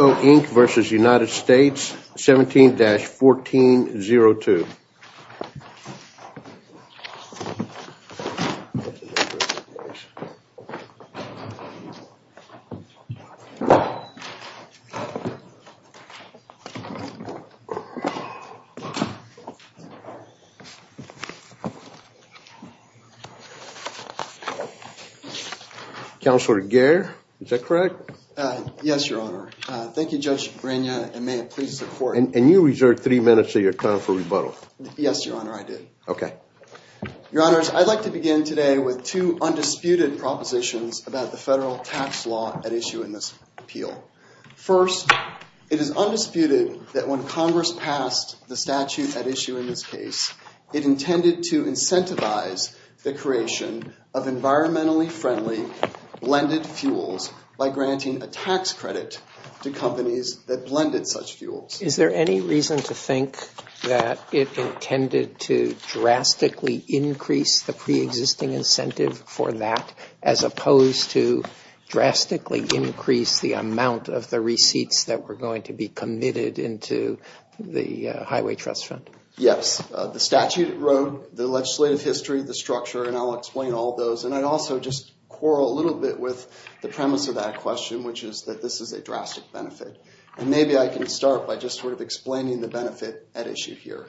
17-1402. Thank you very much. Counselor Gair, is that correct? Yes, Your Honor. Thank you, Judge Grainne, and may it please the court. And you reserved three minutes of your time for rebuttal. Yes, Your Honor, I did. OK. Your Honors, I'd like to begin today with two undisputed propositions about the federal tax law at issue in this appeal. First, it is undisputed that when Congress passed the statute at issue in this case, it intended to incentivize the creation of environmentally friendly blended fuels by granting a tax credit to companies that blended such fuels. Is there any reason to think that it intended to drastically increase the pre-existing incentive for that as opposed to drastically increase the amount of the receipts that were going to be committed into the highway trust fund? Yes. The statute wrote the legislative history, the structure, and I'll explain all those. And I'd also just quarrel a little bit with the premise of that question, which is that this is a drastic benefit. And maybe I can start by just explaining the benefit at issue here.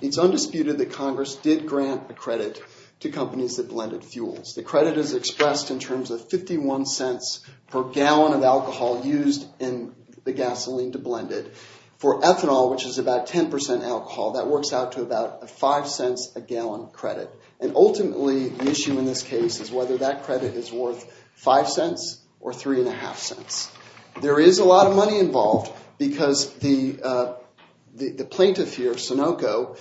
It's undisputed that Congress did grant a credit to companies that blended fuels. The credit is expressed in terms of $0.51 per gallon of alcohol used in the gasoline to blend it. For ethanol, which is about 10% alcohol, that works out to about $0.05 a gallon credit. And ultimately, the issue in this case is whether that credit is worth $0.05 or $0.055. There is a lot of money involved because the plaintiff here, Sunoco,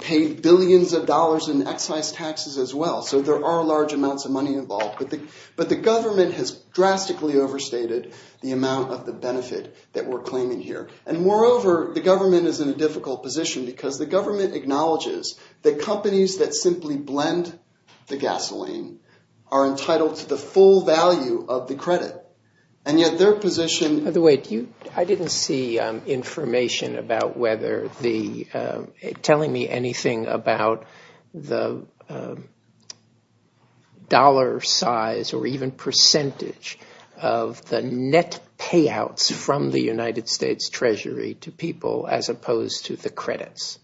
paid billions of dollars in excise taxes as well. So there are large amounts of money involved. But the government has drastically overstated the amount of the benefit that we're claiming here. And moreover, the government is in a difficult position because the government acknowledges that companies that simply blend the gasoline are entitled to the full value of the credit. And yet, their position- By the way, I didn't see information about whether the- telling me anything about the dollar size or even percentage of the net payouts from the United States Treasury to people as opposed to the credits.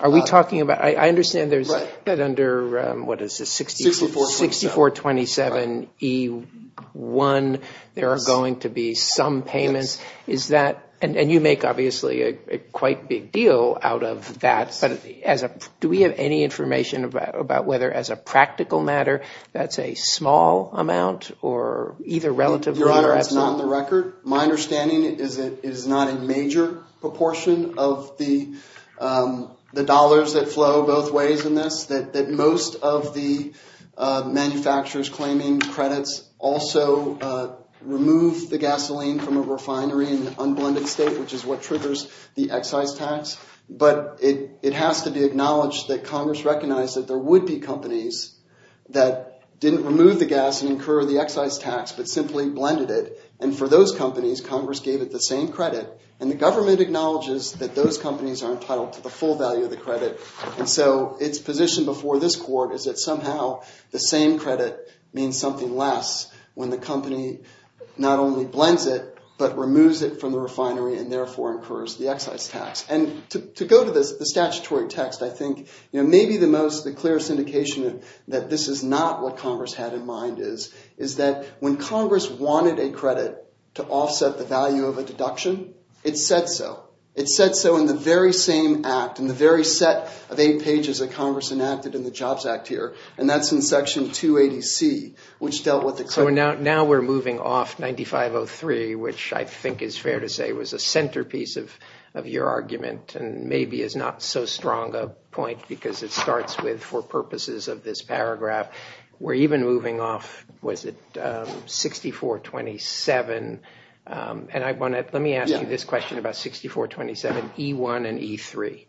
Are we talking about- I understand there's- that under, what is this, 60- 6427E1, there are going to be some payments. Is that- and you make, obviously, a quite big deal out of that. But as a- do we have any information about whether, as a practical matter, that's a small amount or either relatively or- Your Honor, it's not on the record. My understanding is that it is not a major proportion of the dollars that flow both ways in this. That most of the manufacturers claiming credits also remove the gasoline from a refinery in an unblended state, which is what triggers the excise tax. But it has to be acknowledged that Congress recognized that there would be companies that didn't remove the gas and incur the excise tax, but simply blended it. And for those companies, Congress gave it the same credit. are entitled to the full value of the credit. And so its position before this court is that somehow the same credit means something less when the company not only blends it, but removes it from the refinery and therefore incurs the excise tax. And to go to the statutory text, I think maybe the most, the clearest indication that this is not what Congress had in mind is that when Congress wanted a credit to offset the value of a deduction, it said so. It said so in the very same act, in the very set of eight pages that Congress enacted in the Jobs Act here. And that's in section 280C, which dealt with the credit. Now we're moving off 9503, which I think is fair to say was a centerpiece of your argument, and maybe is not so strong a point because it starts with, for purposes of this paragraph, we're even moving off, was it 6427? And let me ask you this question about 6427, E1 and E3.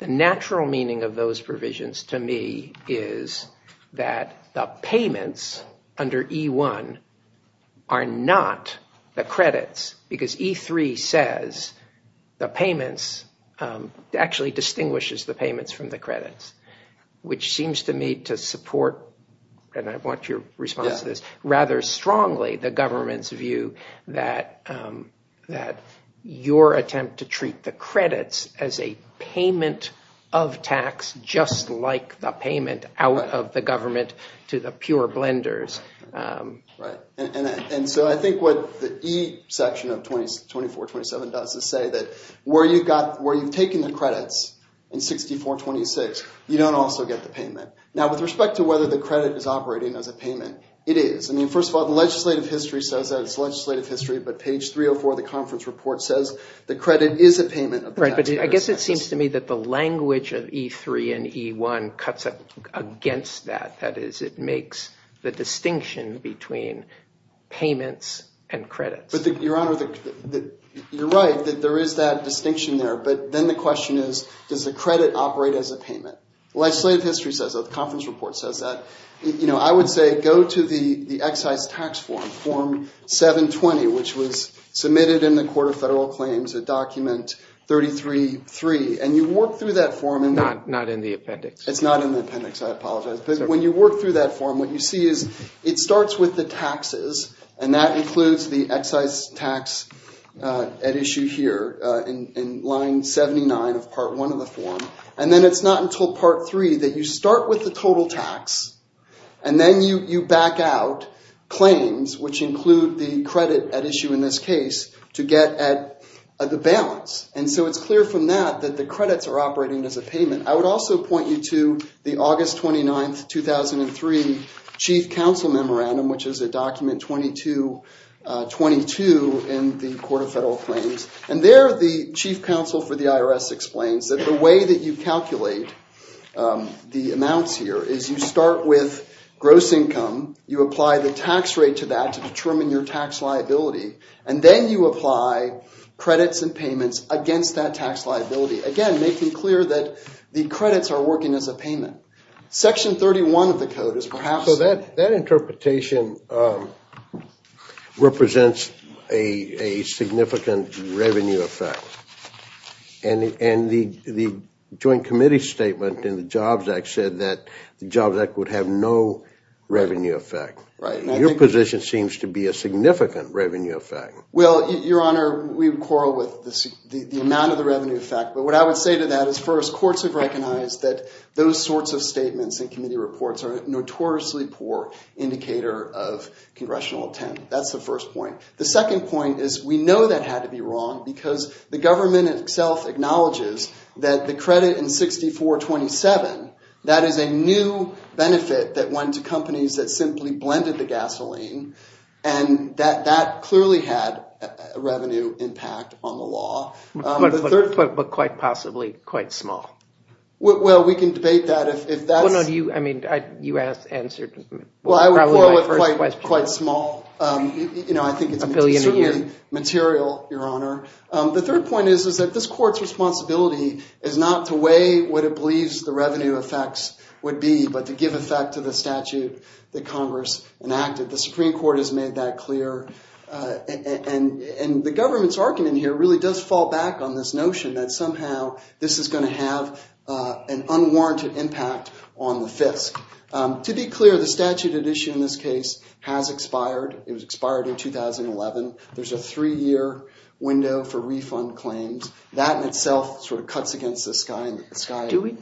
The natural meaning of those provisions to me is that the payments under E1 are not the credits because E3 says the payments, actually distinguishes the payments from the credits, which seems to me to support, and I want your response to this, rather strongly the government's view that your attempt to treat the credits as a payment of tax, just like the payment out of the government to the pure blenders. Right, and so I think what the E section of 2427 does is say that where you've taken the credits in 6426, you don't also get the payment. Now with respect to whether the credit is operating as a payment, it is. I mean, first of all, the legislative history says that it's legislative history, but page 304 of the conference report says the credit is a payment of the tax payers' taxes. Right, but I guess it seems to me that the language of E3 and E1 cuts against that. That is, it makes the distinction between payments and credits. But your honor, you're right that there is that distinction there. But then the question is, does the credit operate as a payment? Legislative history says that, the conference report says that. I would say go to the excise tax form, form 720, which was submitted in the Court of Federal Claims at document 333. And you work through that form. Not in the appendix. It's not in the appendix. I apologize. But when you work through that form, what you see is it starts with the taxes. And that includes the excise tax at issue here in line 79 of part 1 of the form. And then it's not until part 3 that you start with the total tax. And then you back out claims, which include the credit at issue in this case, to get at the balance. And so it's clear from that that the credits are operating as a payment. I would also point you to the August 29, 2003 Chief Counsel Memorandum, which is at document 2222 in the Court of Federal Claims. And there, the Chief Counsel for the IRS explains that the way that you calculate the amounts here is you start with gross income. You apply the tax rate to that to determine your tax liability. And then you apply credits and payments against that tax liability. Again, making clear that the credits are working as a payment. Section 31 of the code is perhaps. So that interpretation represents a significant revenue effect. And the joint committee statement in the Jobs Act said that the Jobs Act would have no revenue effect. Your position seems to be a significant revenue effect. Well, Your Honor, we would quarrel with the amount of the revenue effect. But what I would say to that is, first, courts have recognized that those sorts of statements in committee reports are a notoriously poor indicator of congressional intent. That's the first point. The second point is we know that had to be wrong because the government itself acknowledges that the credit in 6427, that is a new benefit that went to companies that simply blended the gasoline. And that clearly had a revenue impact on the law. But quite possibly quite small. Well, we can debate that if that's. I mean, you answered probably my first question. Quite small. I think it's material, Your Honor. The third point is that this court's responsibility is not to weigh what it believes the revenue effects would be, but to give effect to the statute that Congress enacted. The Supreme Court has made that clear. And the government's argument here really does fall back on this notion that somehow this is going to have an unwarranted impact on the FISC. To be clear, the statute at issue in this case has expired. It was expired in 2011. There's a three-year window for refund claims. That in itself sort of cuts against the sky.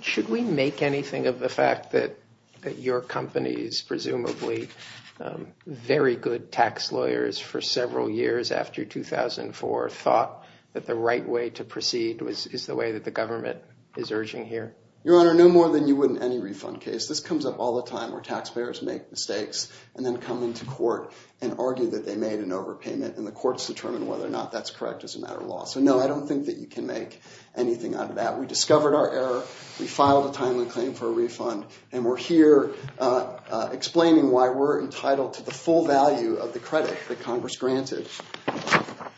Should we make anything of the fact that your company's presumably very good tax lawyers for several years after 2004 thought that the right way to proceed is the way that the government is urging here? Your Honor, no more than you would in any refund case. This comes up all the time where taxpayers make mistakes and then come into court and argue that they made an overpayment and the courts determine whether or not that's correct as a matter of law. So no, I don't think that you can make anything out of that. We discovered our error. We filed a timely claim for a refund. And we're here explaining why we're entitled to the full value of the credit that Congress granted.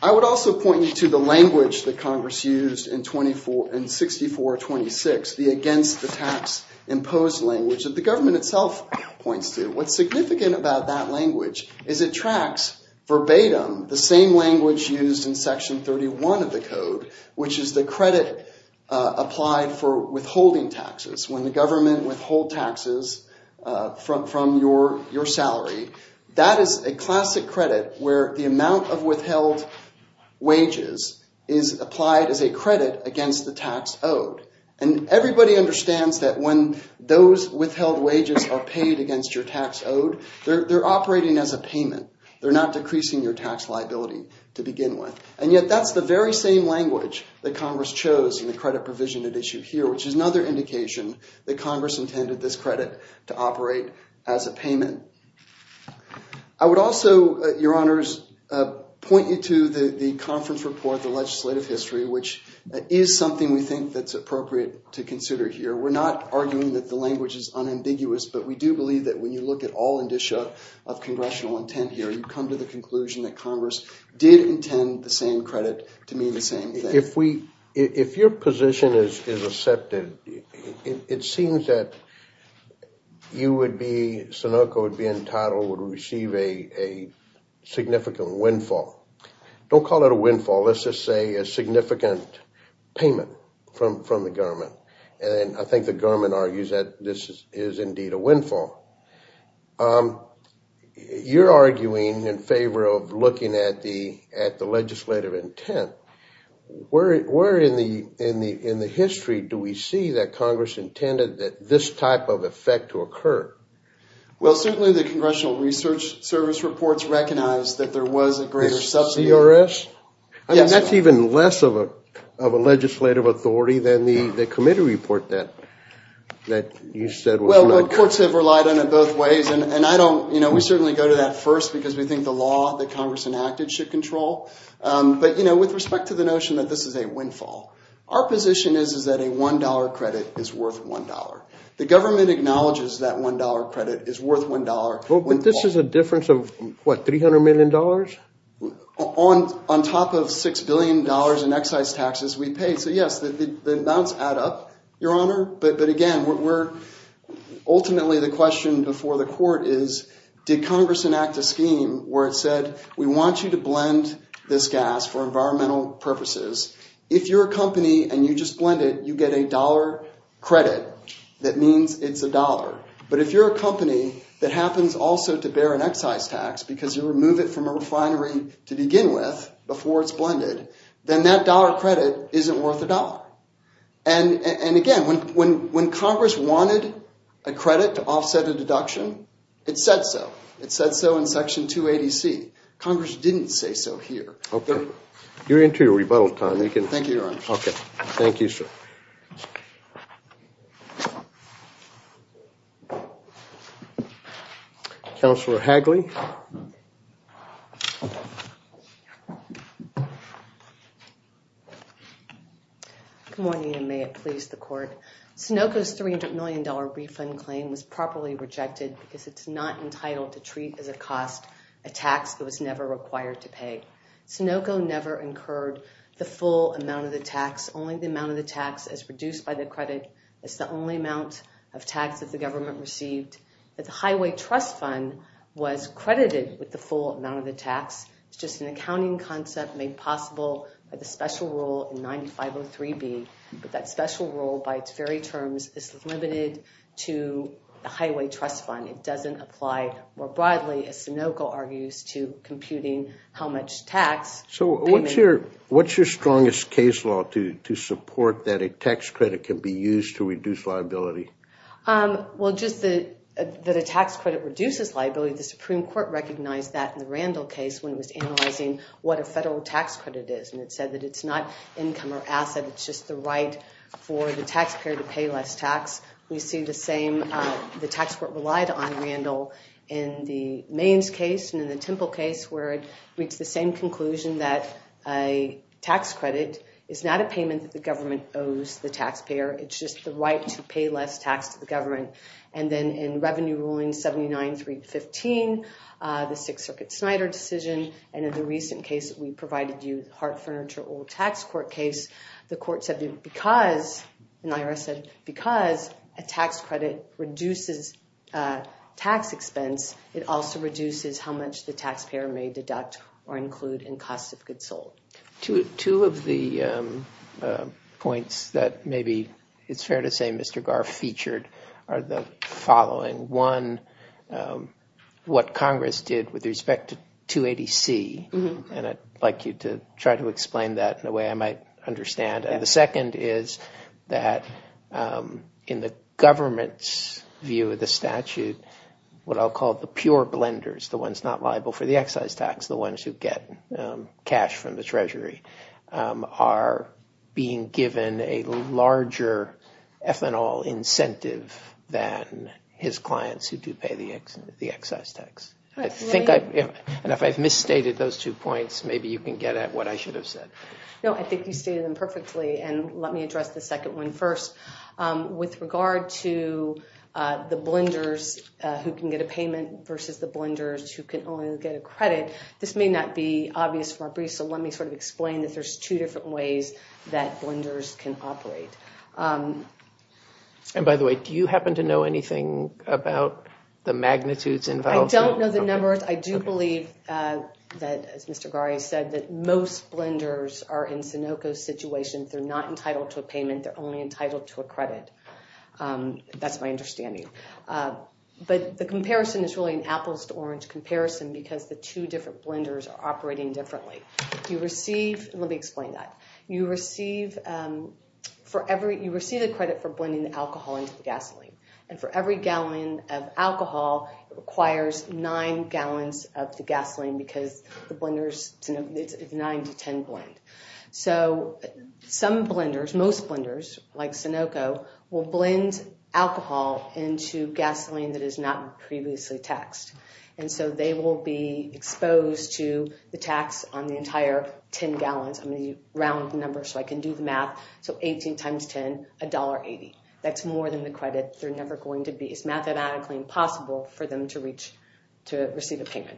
I would also point you to the language that Congress used in 6426, the against the tax imposed language that the government itself points to. What's significant about that language is it tracks verbatim the same language used in section 31 of the code, which is the credit applied for withholding taxes. When the government withhold taxes from your salary, that is a classic credit where the amount of withheld wages is applied as a credit against the tax owed. And everybody understands that when those withheld wages are paid against your tax owed, they're operating as a payment. They're not decreasing your tax liability to begin with. And yet, that's the very same language that Congress chose in the credit provision at issue here, which is another indication that Congress intended this credit to operate as a payment. I would also, your honors, point you to the conference report, the legislative history, which is something we think that's appropriate to consider here. We're not arguing that the language is unambiguous, but we do believe that when you look at all indicia of congressional intent here, you come to the conclusion that Congress did intend the same credit to mean the same thing. If your position is accepted, it seems that you would be, Sunoco would be entitled to receive a significant windfall. Don't call it a windfall. Let's just say a significant payment from the government. And I think the government argues that this is indeed a windfall. You're arguing in favor of looking at the legislative intent. Where in the history do we see that Congress intended that this type of effect to occur? Well, certainly the Congressional Research Service reports recognize that there was a greater subsidy. The CRS? I mean, that's even less of a legislative authority than the committee report that you said was not. Well, courts have relied on it both ways. And we certainly go to that first because we think the law that Congress enacted should control. But with respect to the notion that this is a windfall, our position is that a $1 credit is worth $1. The government acknowledges that $1 credit is worth $1. But this is a difference of, what, $300 million? On top of $6 billion in excise taxes we paid. So yes, the amounts add up, Your Honor. But again, ultimately the question before the court is, did Congress enact a scheme where it said we want you to blend this gas for environmental purposes? If you're a company and you just blend it, you get a $1 credit. That means it's $1. But if you're a company that happens also to bear an excise tax because you remove it from a refinery to begin with before it's blended, then that $1 credit isn't worth $1. And again, when Congress wanted a credit to offset a deduction, it said so. It said so in Section 280C. Congress didn't say so here. You're into your rebuttal time. Thank you, Your Honor. OK. Thank you, sir. Counselor Hagley. Good morning, and may it please the court. Sunoco's $300 million refund claim was properly rejected because it's not entitled to treat as a cost a tax that was never required to pay. Sunoco never incurred the full amount of the tax, only the amount of the tax as reduced by the credit. It's the only amount of tax that the government received. The highway trust fund was credited with the full amount of the tax. It's just an accounting concept made possible by the special rule in 9503B. But that special rule, by its very terms, is limited to the highway trust fund. It doesn't apply more broadly, as Sunoco argues, to computing how much tax payment. So what's your strongest case law to support that a tax credit can be used to reduce liability? Well, just that a tax credit reduces liability. The Supreme Court recognized that in the Randall case when it was analyzing what a federal tax credit is. And it said that it's not income or asset. It's just the right for the taxpayer to pay less tax. We see the same, the tax court relied on Randall in the Maynes case and in the Temple case, where it reached the same conclusion that a tax credit is not a payment that the government owes the taxpayer. It's just the right to pay less tax to the government. And then in Revenue Ruling 79315, the Sixth Circuit Snyder decision, and in the recent case that we provided you, Hart Furniture Oil Tax Court case, the court said that because, and the IRS said, because a tax credit reduces tax expense, it also reduces how much the taxpayer may deduct or include in costs of goods sold. Two of the points that maybe it's fair to say Mr. Garf featured are the following. One, what Congress did with respect to 280C, and I'd like you to try to explain that in a way I might understand. The second is that in the government's view of the statute, what I'll call the pure blenders, the ones not liable for the excise tax, the ones who get cash from the Treasury, are being given a larger ethanol incentive than his clients who do pay the excise tax. And if I've misstated those two points, maybe you can get at what I should have said. No, I think you stated them perfectly. And let me address the second one first. With regard to the blenders who can get a payment versus the blenders who can only get a credit, this may not be obvious from our brief, so let me sort of explain that there's two different ways that blenders can operate. And by the way, do you happen to know anything about the magnitudes involved? I don't know the numbers. I do believe that, as Mr. Garf said, that most blenders are in Sinoco's situation. They're not entitled to a payment. They're only entitled to a credit. That's my understanding. But the comparison is really an apples to orange comparison because the two different blenders are operating differently. You receive, and let me explain that. You receive a credit for blending alcohol into the gasoline. And for every gallon of alcohol, it requires nine gallons of the gasoline because the blenders, it's a nine to 10 blend. So some blenders, most blenders like Sinoco, will blend alcohol into gasoline that is not previously taxed. And so they will be exposed to the tax on the entire 10 gallons. I'm gonna round the numbers so I can do the math. So 18 times 10, $1.80. That's more than the credit they're never going to be. It's mathematically impossible for them to receive a payment.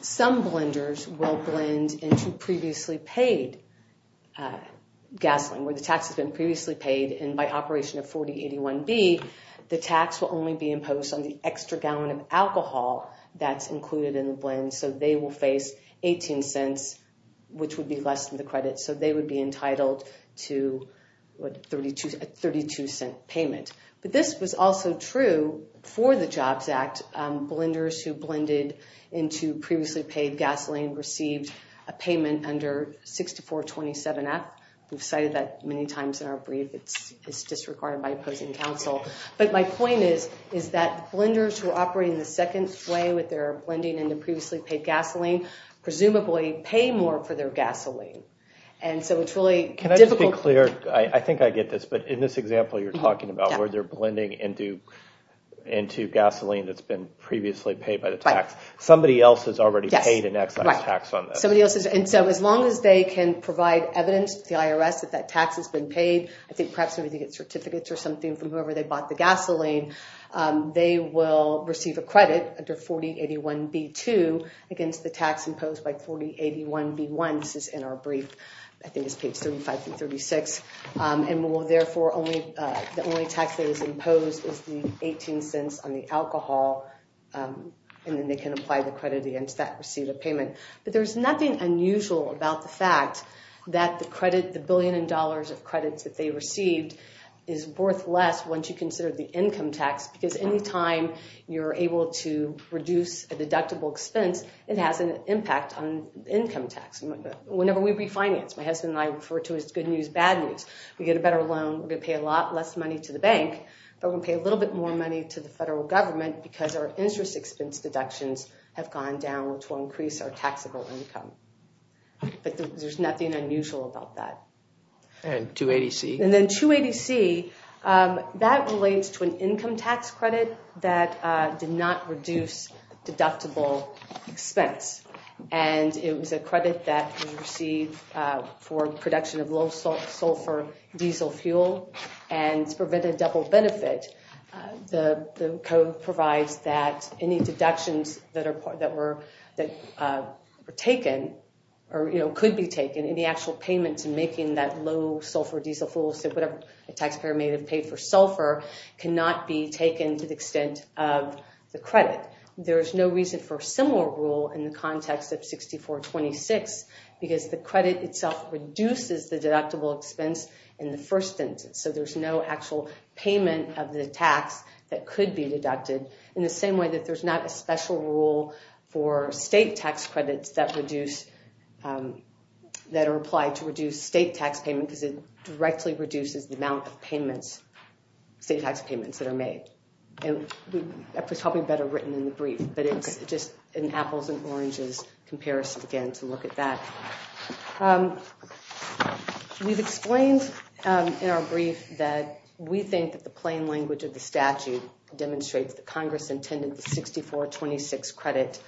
Some blenders will blend into previously paid gasoline where the tax has been previously paid. And by operation of 4081B, the tax will only be imposed on the extra gallon of alcohol that's included in the blend. So they will face 18 cents, which would be less than the credit. So they would be entitled to a 32 cent payment. But this was also true for the JOBS Act. Blenders who blended into previously paid gasoline received a payment under 6427F. We've cited that many times in our brief. It's disregarded by opposing counsel. But my point is that blenders who are operating the second way with their blending into previously paid gasoline presumably pay more for their gasoline. And so it's really difficult- Can I just be clear? I think I get this. But in this example you're talking about where they're blending into gasoline that's been previously paid by the tax. Somebody else has already paid an excise tax on this. Somebody else has. And so as long as they can provide evidence to the IRS that that tax has been paid, I think perhaps they would get certificates or something from whoever they bought the gasoline, they will receive a credit under 4081B2 against the tax imposed by 4081B1. This is in our brief. I think it's page 35 through 36. And will therefore only, the only tax that is imposed is the 18 cents on the alcohol. And then they can apply the credit against that receipt of payment. But there's nothing unusual about the fact that the credit, the billion in dollars of credits that they received is worth less once you consider the income tax. Because anytime you're able to reduce a deductible expense, it has an impact on income tax. Whenever we refinance, my husband and I refer to it as good news, bad news. We get a better loan, we're gonna pay a lot less money to the bank, but we'll pay a little bit more money to the federal government because our interest expense deductions have gone down, which will increase our taxable income. But there's nothing unusual about that. And 280C. That relates to an income tax credit that did not reduce deductible expense. And it was a credit that was received for production of low-sulfur diesel fuel and prevented double benefit. The code provides that any deductions that were taken or could be taken, any actual payment to making that low-sulfur diesel fuel, so whatever a taxpayer may have paid for sulfur, cannot be taken to the extent of the credit. There is no reason for a similar rule in the context of 6426 because the credit itself reduces the deductible expense in the first instance. So there's no actual payment of the tax that could be deducted. In the same way that there's not a special rule for state tax credits that are applied to reduce state tax payment because it directly reduces the amount of payments, state tax payments that are made. And that was probably better written in the brief, but it's just an apples and oranges comparison again to look at that. We've explained in our brief that we think that the plain language of the statute demonstrates that Congress intended the 6426 credit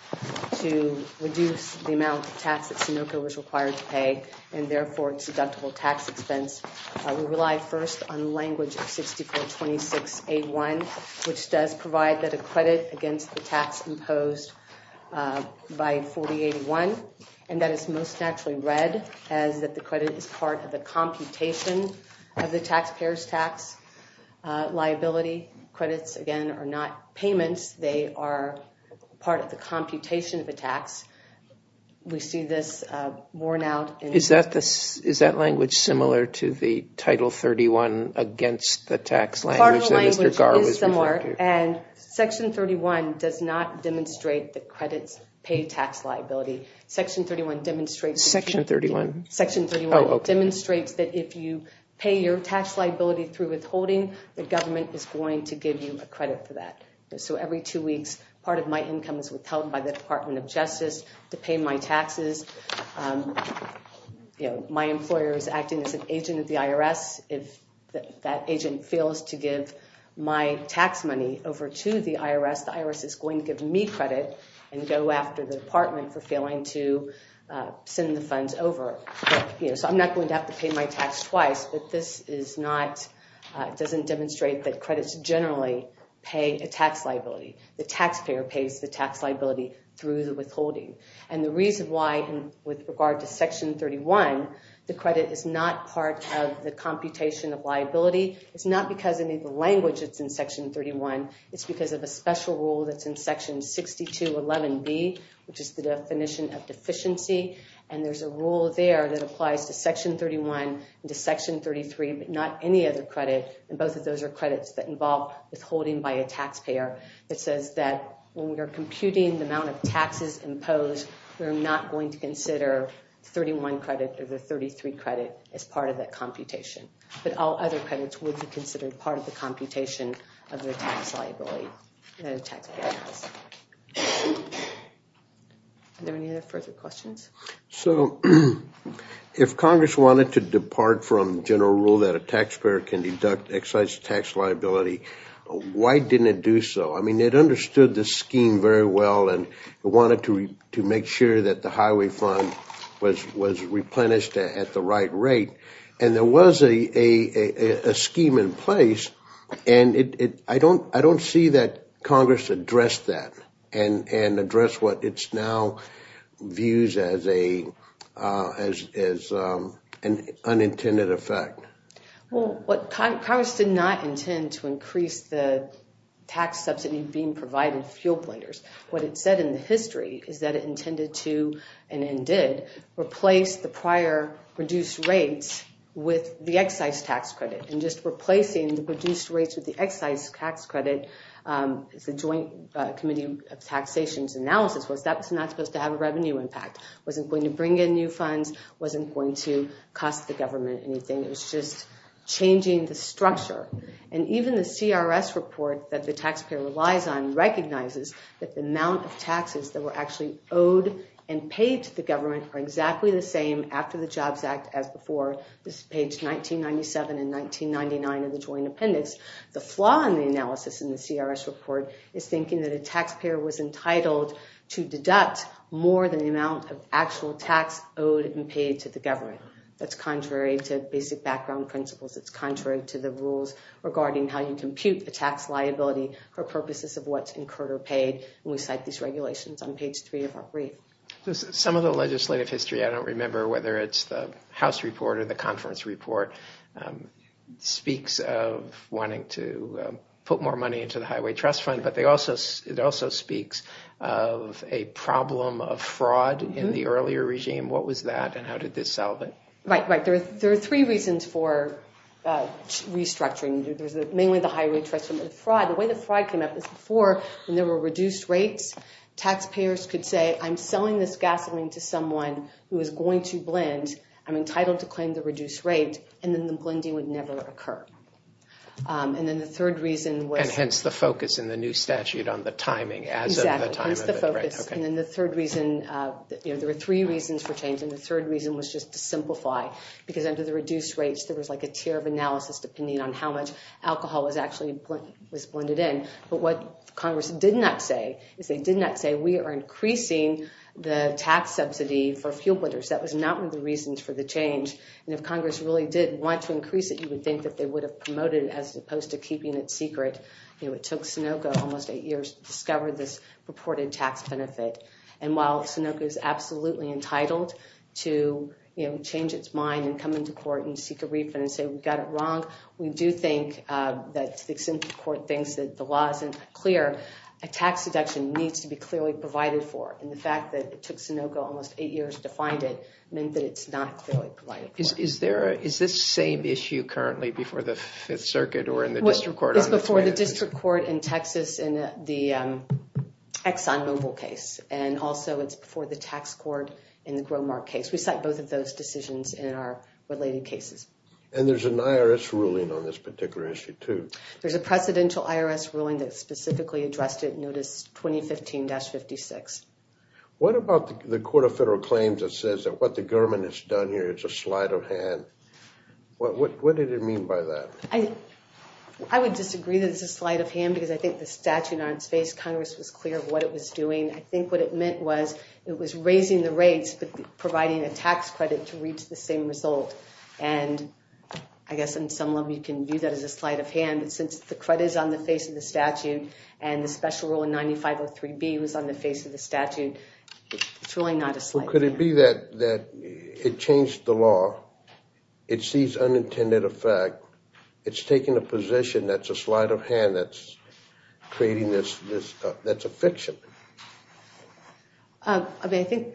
to reduce the amount of tax that Sunoco was required to pay and therefore its deductible tax expense. We rely first on language of 6426A1, which does provide that a credit against the tax imposed by 4081. And that is most naturally read as that the credit is part of the computation of the taxpayer's tax liability. Credits, again, are not payments. They are part of the computation of a tax. We see this worn out. Is that language similar to the Title 31 against the tax language that Mr. Garr was referring to? Part of the language is similar, and Section 31 does not demonstrate that credits pay tax liability. Section 31 demonstrates- Section 31? Section 31 demonstrates that if you pay your tax liability through withholding, the government is going to give you a credit for that. So every two weeks, part of my income is withheld by the Department of Justice to pay my taxes. My employer is acting as an agent of the IRS. If that agent fails to give my tax money over to the IRS, the IRS is going to give me credit and go after the department for failing to send the funds over. So I'm not going to have to pay my tax twice, but this doesn't demonstrate that credits generally pay a tax liability. The taxpayer pays the tax liability through the withholding. And the reason why, with regard to Section 31, the credit is not part of the computation of liability, it's not because of the language that's in Section 31, it's because of a special rule that's in Section 6211B, which is the definition of deficiency, and there's a rule there that applies to Section 31 and to Section 33, but not any other credit, and both of those are credits that involve withholding by a taxpayer. It says that when we're computing the amount of taxes imposed, we're not going to consider 31 credit or the 33 credit as part of that computation, but all other credits would be considered part of the computation of the tax liability, the taxpayer tax. Are there any other further questions? So if Congress wanted to depart from the general rule that a taxpayer can deduct excise tax liability, why didn't it do so? I mean, it understood the scheme very well and wanted to make sure that the highway fund was replenished at the right rate, and there was a scheme in place, and I don't see that Congress addressed that and addressed what it now views as an unintended effect. Well, Congress did not intend to increase the tax subsidy being provided to fuel blenders. What it said in the history is that it intended to, and it did, replace the prior reduced rates with the excise tax credit, and just replacing the reduced rates with the excise tax credit, the Joint Committee of Taxation's analysis was that it's not supposed to have a revenue impact, wasn't going to bring in new funds, wasn't going to cost the government anything. It was just changing the structure, and even the CRS report that the taxpayer relies on recognizes that the amount of taxes that were actually owed and paid to the government are exactly the same after the JOBS Act as before. This is page 1997 and 1999 of the Joint Appendix. The flaw in the analysis in the CRS report is thinking that a taxpayer was entitled to deduct more than the amount of actual tax owed and paid to the government. That's contrary to basic background principles. It's contrary to the rules regarding how you compute the tax liability for purposes of what's incurred or paid, and we cite these regulations on page three of our brief. Some of the legislative history, I don't remember whether it's the House report or the conference report, speaks of wanting to put more money into the Highway Trust Fund, but it also speaks of a problem of fraud in the earlier regime. What was that, and how did this solve it? Right, right. There are three reasons for restructuring. There's mainly the Highway Trust Fund, but the fraud, the way the fraud came up is before, when there were reduced rates, taxpayers could say, I'm selling this gasoline to someone who is going to blend. I'm entitled to claim the reduced rate, and then the blending would never occur. And then the third reason was- And hence the focus in the new statute on the timing, as of the time of it, right, okay. And then the third reason, there were three reasons for change, and the third reason was just to simplify, because under the reduced rates, there was a tier of analysis depending on how much alcohol was actually blended in. But what Congress did not say is they did not say, we are increasing the tax subsidy for fuel blenders. That was not one of the reasons for the change. And if Congress really did want to increase it, you would think that they would have promoted it as opposed to keeping it secret. It took Sunoco almost eight years to discover this purported tax benefit. And while Sunoco is absolutely entitled to change its mind and come into court and seek a refund and say, we got it wrong, we do think that, to the extent the court thinks that the law isn't clear, a tax deduction needs to be clearly provided for. And the fact that it took Sunoco almost eight years to find it meant that it's not clearly provided for. Is this same issue currently before the Fifth Circuit or in the district court? It's before the district court in Texas and the ExxonMobil case. And also it's before the tax court in the Gromar case. We cite both of those decisions in our related cases. And there's an IRS ruling on this particular issue too. There's a presidential IRS ruling that specifically addressed it, notice 2015-56. What about the Court of Federal Claims that says that what the government has done here is a sleight of hand? What did it mean by that? I would disagree that it's a sleight of hand because I think the statute on its face, Congress was clear of what it was doing. I think what it meant was it was raising the rates but providing a tax credit to reach the same result. And I guess in some level you can view that as a sleight of hand, but since the credit is on the face of the statute and the special rule in 9503B was on the face of the statute it's really not a sleight of hand. Well could it be that it changed the law, it sees unintended effect, it's taken a position that's a sleight of hand and that's creating this, that's a fiction? I mean I think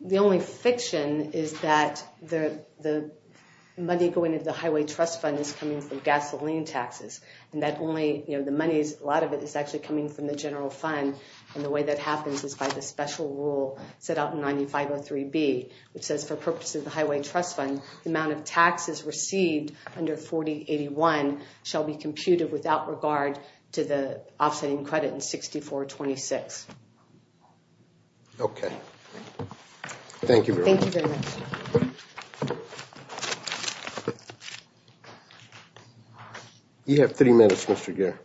the only fiction is that the money going into the Highway Trust Fund is coming from gasoline taxes. And that only, the money, a lot of it is actually coming from the general fund and the way that happens is by the special rule set out in 9503B, which says for purposes of the Highway Trust Fund the amount of taxes received under 4081 shall be computed without regard to the offsetting credit in 6426. Okay. Thank you very much. Thank you very much. You have three minutes, Mr. Geer.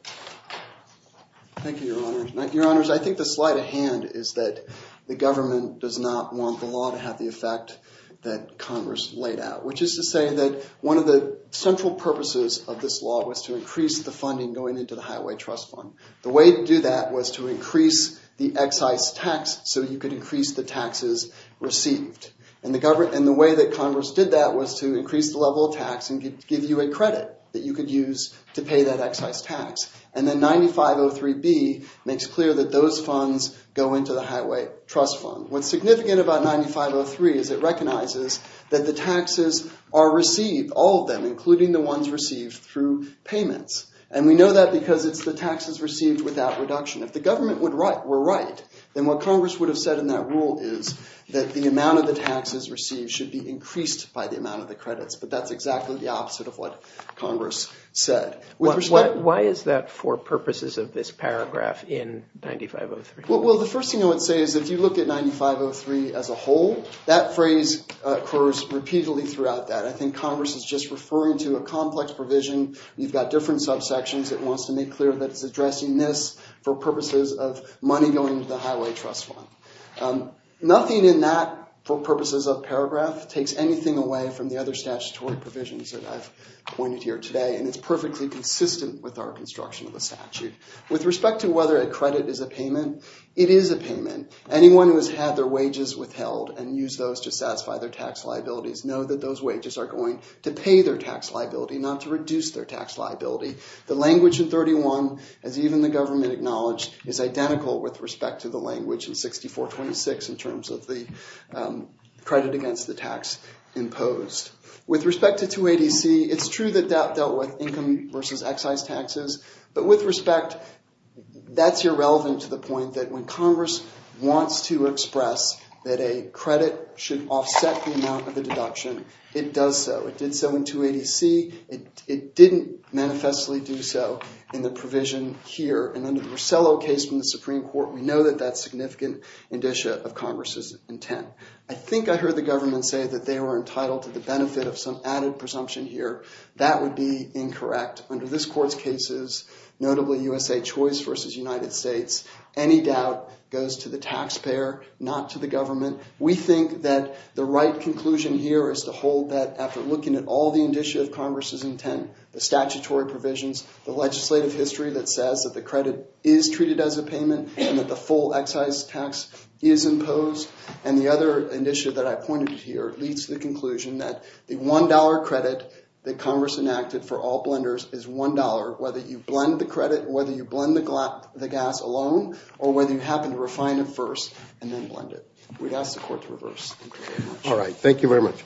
Thank you, Your Honors. Your Honors, I think the sleight of hand is that the government does not want the law to have the effect that Congress laid out, which is to say that one of the central purposes of this law was to increase the funding going into the Highway Trust Fund. The way to do that was to increase the excise tax so you could increase the taxes received. And the way that Congress did that was to increase the level of tax and give you a credit that you could use to pay that excise tax. And then 9503B makes clear that those funds go into the Highway Trust Fund. What's significant about 9503 is it recognizes that the taxes are received, all of them, including the ones received through payments. And we know that because it's the taxes received without reduction. If the government were right, then what Congress would have said in that rule is that the amount of the taxes received should be increased by the amount of the credits. But that's exactly the opposite of what Congress said. Why is that for purposes of this paragraph in 9503? Well, the first thing I would say is if you look at 9503 as a whole, that phrase occurs repeatedly throughout that. I think Congress is just referring to a complex provision. You've got different subsections. It wants to make clear that it's addressing this for purposes of money going to the Highway Trust Fund. Nothing in that, for purposes of paragraph, takes anything away from the other statutory provisions that I've pointed here today. And it's perfectly consistent with our construction of the statute. With respect to whether a credit is a payment, it is a payment. Anyone who has had their wages withheld and used those to satisfy their tax liabilities know that those wages are going to pay their tax liability, not to reduce their tax liability. The language in 31, as even the government acknowledged, is identical with respect to the language in 6426 in terms of the credit against the tax imposed. With respect to 280C, it's true that that dealt with income versus excise taxes. But with respect, that's irrelevant to the point that when Congress wants to express that a credit should offset the amount of the deduction, it does so. It did so in 280C. It didn't manifestly do so in the provision here. And under the Rosello case from the Supreme Court, we know that that's significant indicia of Congress's intent. I think I heard the government say that they were entitled to the benefit of some added presumption here. That would be incorrect. Under this court's cases, notably USA Choice versus United States, any doubt goes to the taxpayer, not to the government. We think that the right conclusion here is to hold that after looking at all the indicia of Congress's intent, the statutory provisions, the legislative history that says that the credit is treated as a payment and that the full excise tax is imposed. And the other indicia that I pointed to here leads to the conclusion that the $1 credit that Congress enacted for all blenders is $1, whether you blend the credit, whether you blend the gas alone, or whether you happen to refine it first. And then blend it. We'd ask the court to reverse. All right, thank you very much.